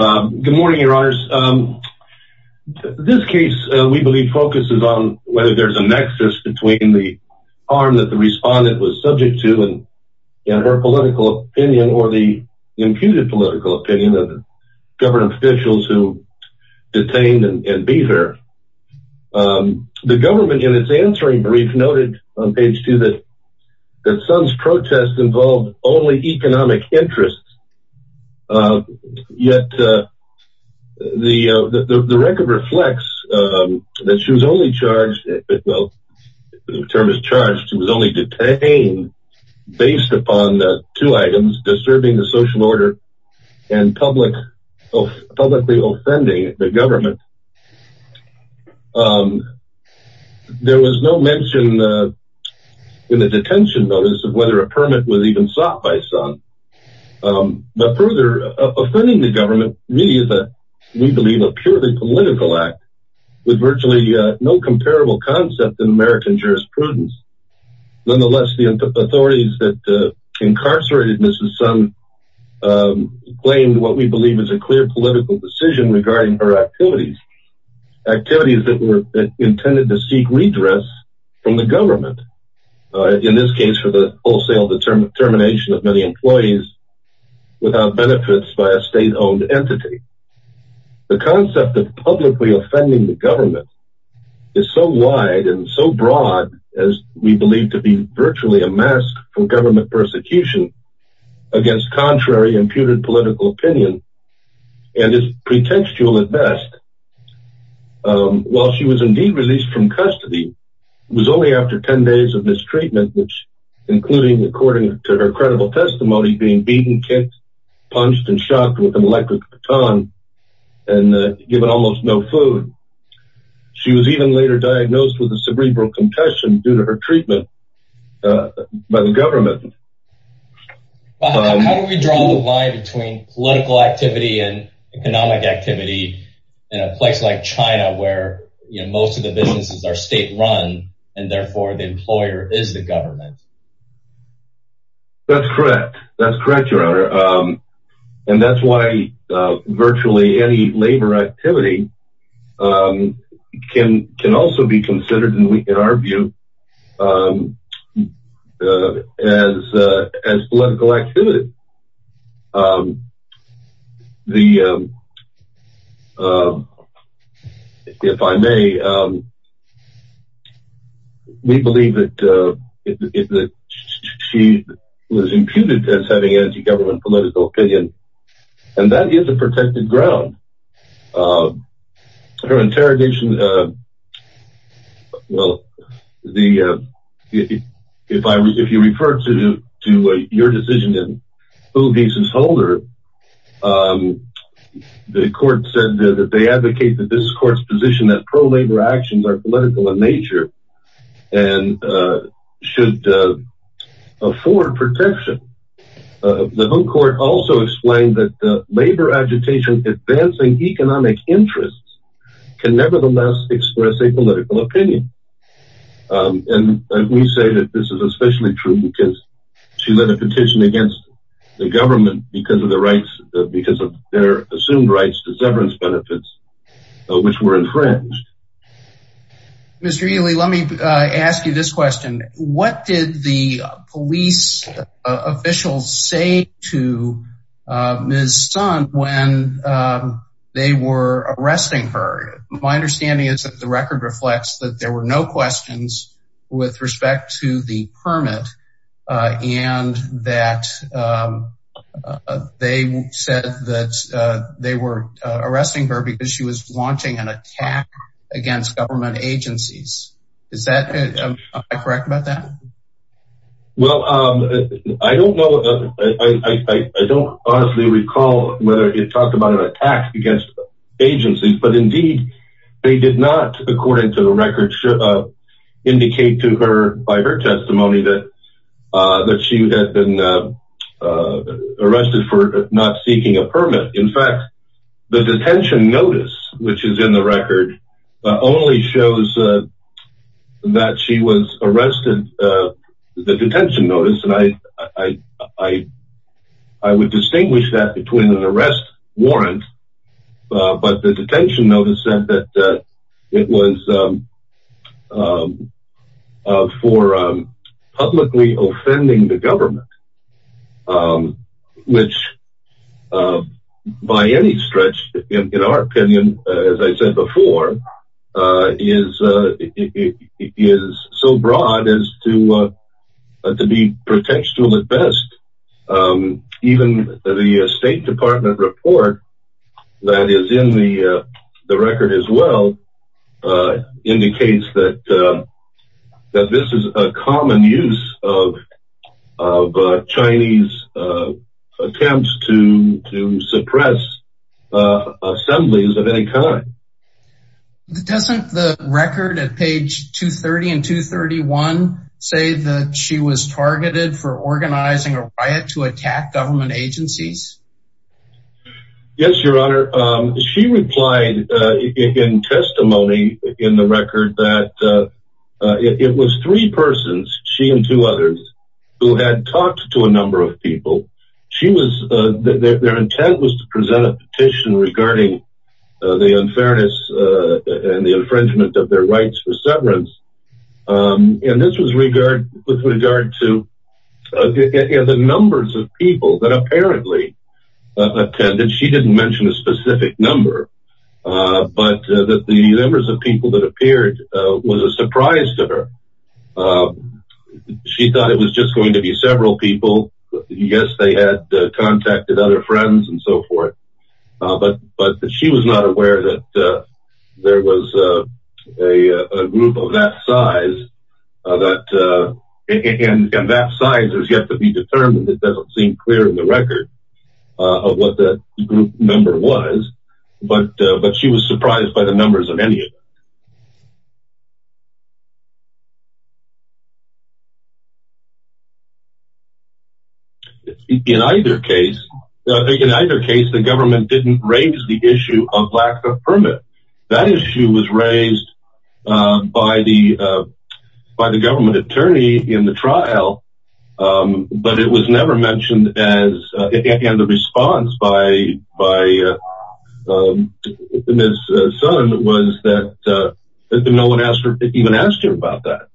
Good morning your honors. This case we believe focuses on whether there's a nexus between the arm that the respondent was subject to and her political opinion or the imputed political opinion of government officials who detained and be there. The government in its answering brief noted on page 2 that Sun's protests involved only economic interests yet the record reflects that she was only charged, well the term is charged, she was only detained based upon the two items disturbing the social order and public publicly offending the government. There was no mention in the detention notice of whether a permit was even sought by Sun but further offending the government really is a we believe a purely political act with virtually no comparable concept in American jurisprudence. Nonetheless the authorities that incarcerated Mrs. Sun claimed what we believe is a clear political decision regarding her activities. Activities that were intended to seek redress from the government in this case for the wholesale determination of many employees without benefits by a state-owned entity. The concept of publicly offending the government is so masked from government persecution against contrary imputed political opinion and is pretextual at best. While she was indeed released from custody was only after 10 days of mistreatment which including according to her credible testimony being beaten, kicked, punched, and shocked with an electric baton and given almost no food. She was even later diagnosed with a cerebral concussion due to her treatment by the government. How do we draw the line between political activity and economic activity in a place like China where you know most of the businesses are state-run and therefore the employer is the government? That's correct that's correct your honor and that's why virtually any labor activity can can also be considered and we can argue as as political activity. The if I may we believe that she was imputed as having anti-government political opinion and that is a protected ground. Her interrogation well the if I was if you refer to to your decision in who gives his holder the court said that they advocate that this court's position that pro-labor actions are political in nature and should afford protection. The home court also explained that the labor agitation advancing economic interests can nevertheless express a political opinion and we say that this is especially true because she led a petition against the government because of the rights because of their assumed rights to severance benefits which were infringed. Mr. Ely let me ask you this question what did the police officials say to Ms. Sun when they were arresting her? My understanding is that the record reflects that there were no questions with respect to the permit and that they said that they were arresting her because she was launching an attack against government agencies. Is that correct about that? Well I don't know I don't honestly recall whether it talked about an attack against agencies but indeed they did not according to the record indicate to her by her testimony that that she had been arrested for not seeking a permit in fact the detention notice which is in the record only shows that she was arrested the detention notice and I I would distinguish that between an arrest warrant but the publicly offending the government which by any stretch in our opinion as I said before is it is so broad as to to be pretentious at best even the State Department report that is in the the record as well indicates that that this is a common use of Chinese attempts to suppress assemblies of any kind. Doesn't the record at page 230 and 231 say that she was targeted for organizing a riot to attack government agencies? Yes your honor she replied in testimony in the person's she and two others who had talked to a number of people she was their intent was to present a petition regarding the unfairness and the infringement of their rights for severance and this was regard with regard to the numbers of people that apparently attended she didn't mention a specific number but that the numbers of people that appeared was a surprise to her she thought it was just going to be several people yes they had contacted other friends and so forth but but she was not aware that there was a group of that size that and that size has yet to be determined it doesn't seem clear in the record of what the group number was but but she was surprised by the numbers of any in either case in either case the government didn't raise the issue of lack of permit that issue was raised by the by the government attorney in the that no one asked her to even ask her about that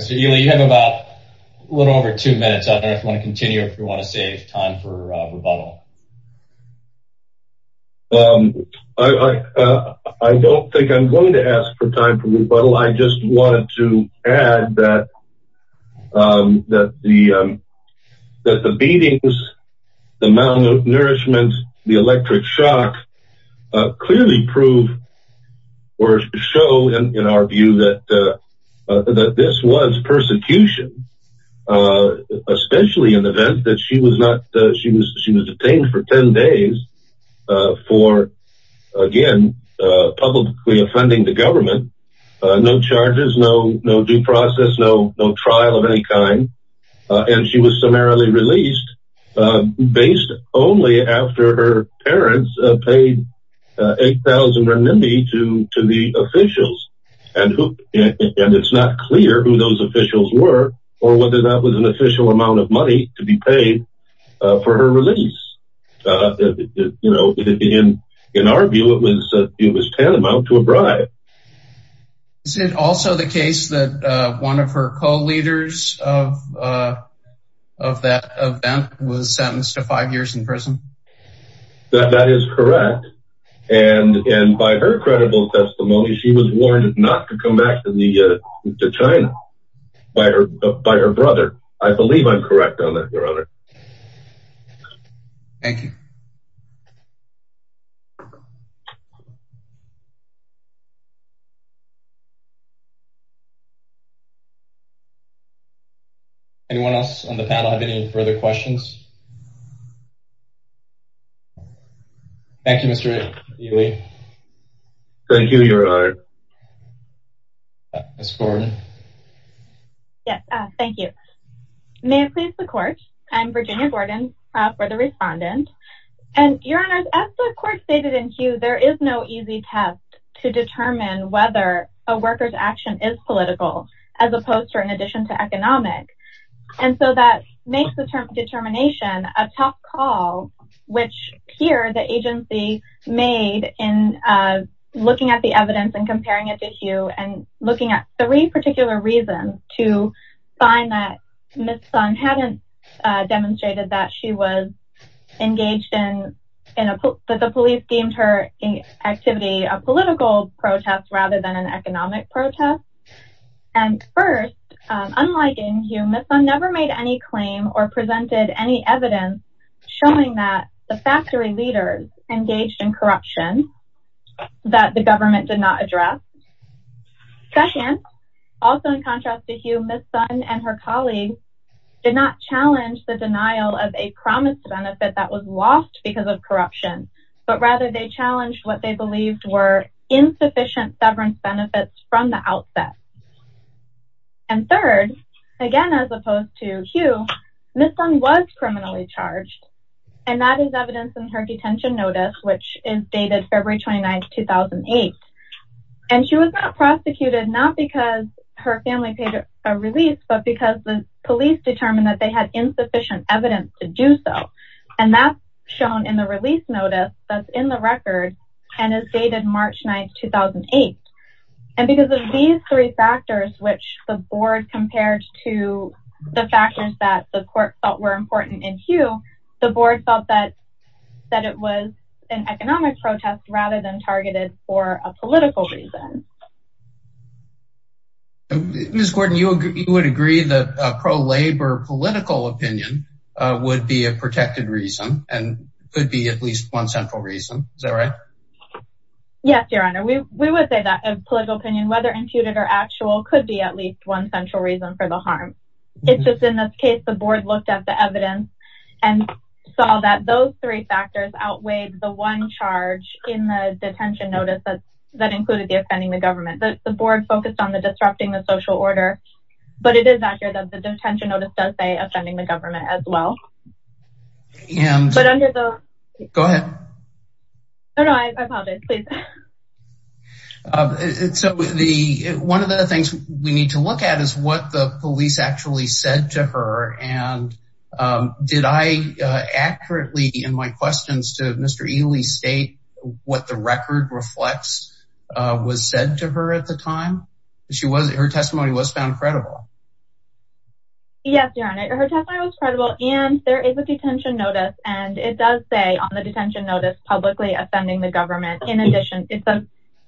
so you have about a little over two minutes I don't want to continue if you want to save time for rebuttal I I don't think I'm going to ask for time for the beatings the malnourishment the electric shock clearly prove or show in our view that that this was persecution especially an event that she was not she was she was detained for ten days for again publicly offending the government no charges no no due process no no trial of any kind and she was released based only after her parents paid 8,000 renminbi to to the officials and who and it's not clear who those officials were or whether that was an official amount of money to be paid for her release you know in in our view it was it was tantamount to a bribe is it also the case that one of her co-leaders of that event was sentenced to five years in prison that that is correct and and by her credible testimony she was warned not to come back to the to China by her by her brother I believe I'm correct on that your honor thank you anyone else on the panel have any further questions thank you mr. Lee thank you your honor yes thank you may it please the court I'm Virginia Gordon for the respondent and your honors as the court stated in queue there is no easy test to determine whether a worker's action is political as opposed to an addition to economic and so that makes the term determination a tough call which here the agency made in looking at the evidence and comparing it to you and looking at three particular reasons to find that miss Sun hadn't demonstrated that she was engaged in in a book that the police deemed her activity a and first never made any claim or presented any evidence showing that the factory leaders engaged in corruption that the government did not address session also in contrast to you miss Sutton and her colleagues did not challenge the denial of a promised benefit that was lost because of corruption but rather they challenged what they believed were insufficient severance benefits from the outset and third again as opposed to Hugh this one was criminally charged and that is evidence in her detention notice which is dated February 29 2008 and she was not prosecuted not because her family paid a release but because the police determined that they had insufficient evidence to do so and that's shown in the release notice that's in the record dated March 9 2008 and because of these three factors which the board compared to the factors that the court thought were important in Hugh the board felt that that it was an economic protest rather than targeted for a political reason miss Gordon you would agree the pro-labor political opinion would be a yes your honor we would say that a political opinion whether imputed or actual could be at least one central reason for the harm it's just in this case the board looked at the evidence and saw that those three factors outweighed the one charge in the detention notice that that included the offending the government that the board focused on the disrupting the social order but it is clear that the detention notice does say offending the government as well and go ahead so the one of the things we need to look at is what the police actually said to her and did I accurately in my questions to mr. Ely state what the record reflects was said to her at the time she wasn't her yes your honor her testimony was credible and there is a detention notice and it does say on the detention notice publicly offending the government in addition it's a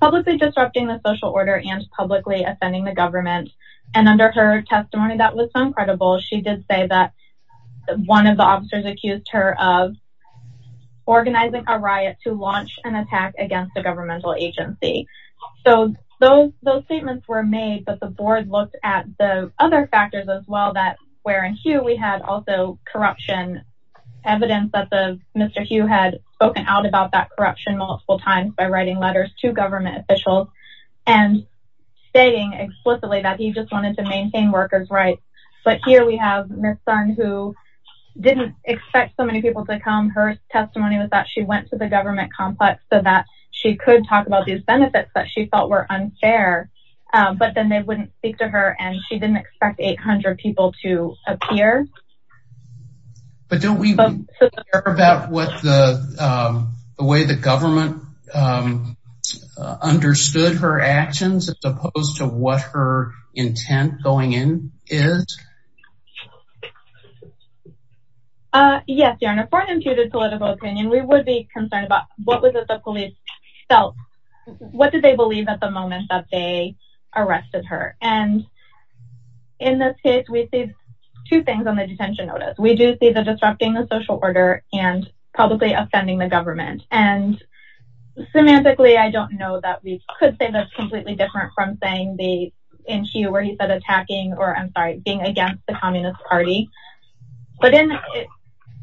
publicly disrupting the social order and publicly offending the government and under her testimony that was so incredible she did say that one of the officers accused her of organizing a riot to launch an attack against a governmental agency so those those statements were made but the board looked at the other factors as well that wherein Hugh we had also corruption evidence that the mr. Hugh had spoken out about that corruption multiple times by writing letters to government officials and saying explicitly that he just wanted to maintain workers rights but here we have this son who didn't expect so many people to come her testimony was that she went to the government complex so that she could talk about these benefits that she felt were unfair but then they wouldn't speak to her and she didn't expect 800 people to appear but don't we care about what the way the government understood her actions as opposed to what her intent going in is yes your honor for them to the political opinion we would be concerned about what was it the felt what did they believe at the moment that they arrested her and in this case we see two things on the detention notice we do see the disrupting the social order and publicly offending the government and semantically I don't know that we could say that's completely different from saying the in Q where he said attacking or I'm sorry being against the Communist Party but in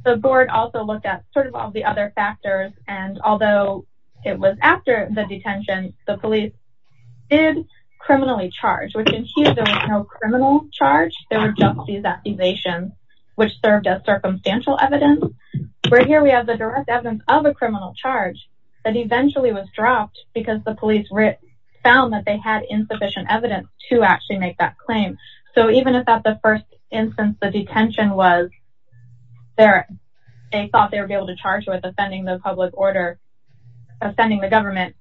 the board also look at the other factors and although it was after the detention the police criminally charge criminal charge which served as circumstantial evidence of a criminal charge that eventually was dropped because the police found that they had insufficient evidence to actually make that claim so they thought they would be able to charge with offending the public order offending the government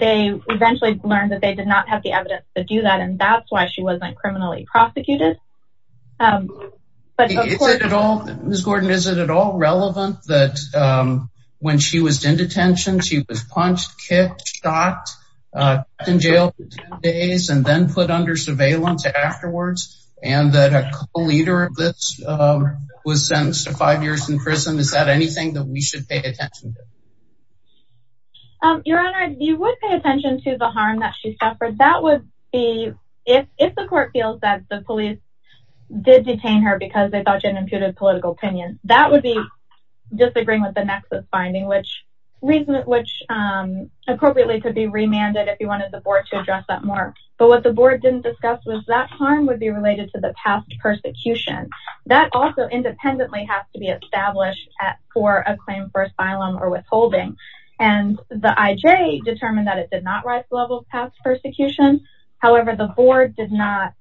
they eventually learned that they did not have the evidence to do that and that's why she wasn't criminally prosecuted but at all miss Gordon is it at all relevant that when she was in detention she was punched kicked shot in jail days and then put under surveillance afterwards and that a leader of this was sentenced to five years in prison is that anything that we should pay attention to your honor you would pay attention to the harm that she suffered that would be if the court feels that the police did detain her because they thought she had imputed political opinion that would be disagreeing with the nexus finding which reason which appropriately could be remanded if you wanted the board to address that more but what the board didn't discuss was that harm would be related to the past persecution that also independently has to be established at for a claim for asylum or withholding and the IJ determined that it did not rise to levels past persecution however the board did not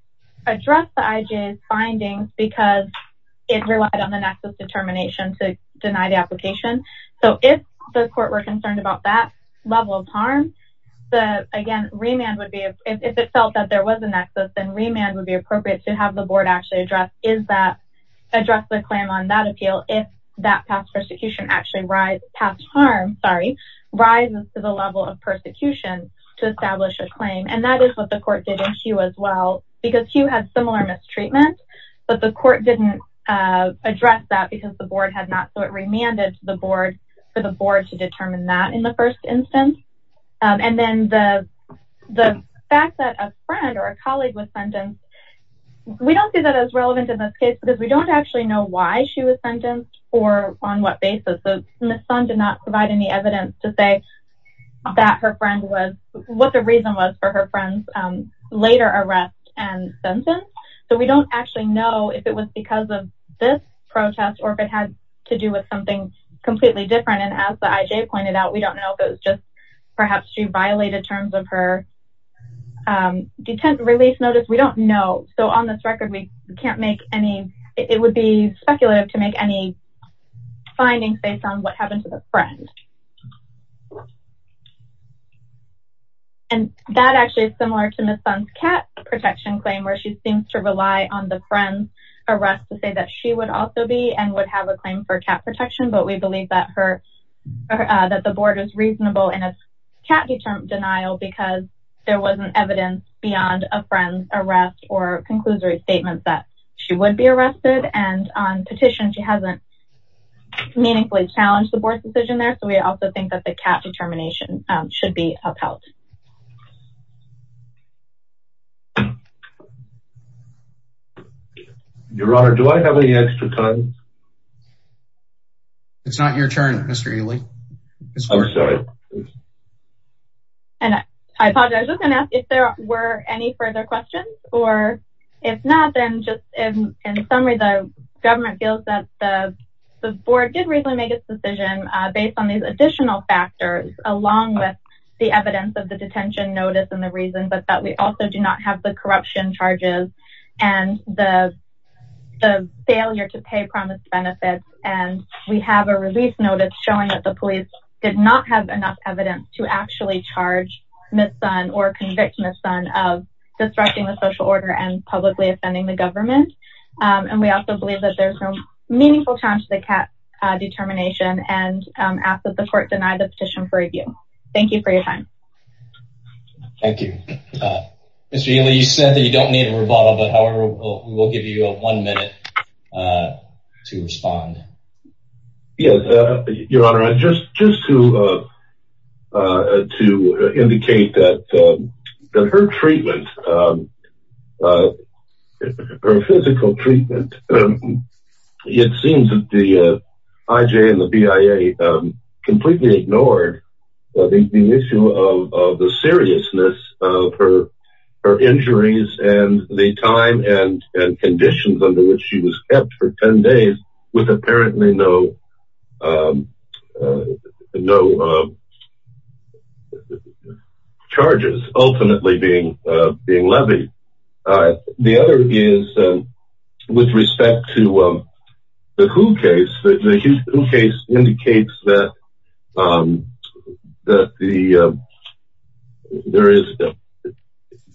address the IJ's findings because it relied on the nexus determination to deny the application so if the court were concerned about that level of harm the again remand would be if it felt that there was a nexus and remand would be appropriate to have the board actually address is that address the claim on that appeal if that past persecution actually rise past harm sorry rises to the level of persecution to establish a claim and that is what the court didn't you as well because he had similar mistreatment but the court didn't address that because the board had not so it remanded to the board for the board to determine that in the first instance and then the the fact that a friend or a colleague was sentenced we don't see that as relevant in this case because we don't actually know why she was sentenced or on what basis the son did not provide any evidence to say that her friend was what the reason was for her friends later arrest and sentence so we don't actually know if it was because of this protest or if it had to do with something completely different and as the IJ pointed out we don't know if it just perhaps she violated terms of her detent release notice we don't know so on this record we can't make any it would be speculative to make any findings based on what happened to the friend and that actually is similar to miss fun's cat protection claim where she seems to rely on the friends arrest to say that she would also be and would have a claim for cat protection but we believe that that the board is reasonable and it's cat determined denial because there wasn't evidence beyond a friend's arrest or conclusory statements that she would be arrested and on petition she hasn't meaningfully challenged the board's decision there so we also think that the cat determination should be upheld your honor do I have any extra time it's not your turn mr. Ely and I apologize I'm gonna ask if there were any further questions or if not then just in summary the government feels that the board did recently make its decision based on these additional factors along with the evidence of the detention notice and the reason but that we also do not have the corruption charges and the failure to pay promised benefits and we have a release notice showing that the police did not have enough evidence to actually charge miss son or convicted son of disrupting the social order and publicly offending the government and we also the court denied the petition for review thank you for your time thank you it's really you said that you don't need a rebuttal but however we will give you a one minute to respond yes your honor I just just to to indicate that her treatment her physical treatment it seems that the IJ and the BIA completely ignored the issue of the seriousness of her her injuries and the time and and conditions under which she was kept for 10 days with apparently no no charges ultimately being being levied I the other is with respect to the who case the case indicates that that the there is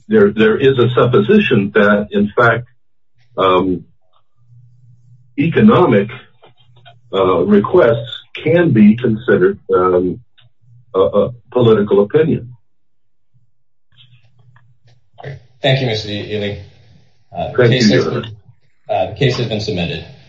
there there is a supposition that in economic requests can be considered a political opinion thank you mr. Ely case has been submitted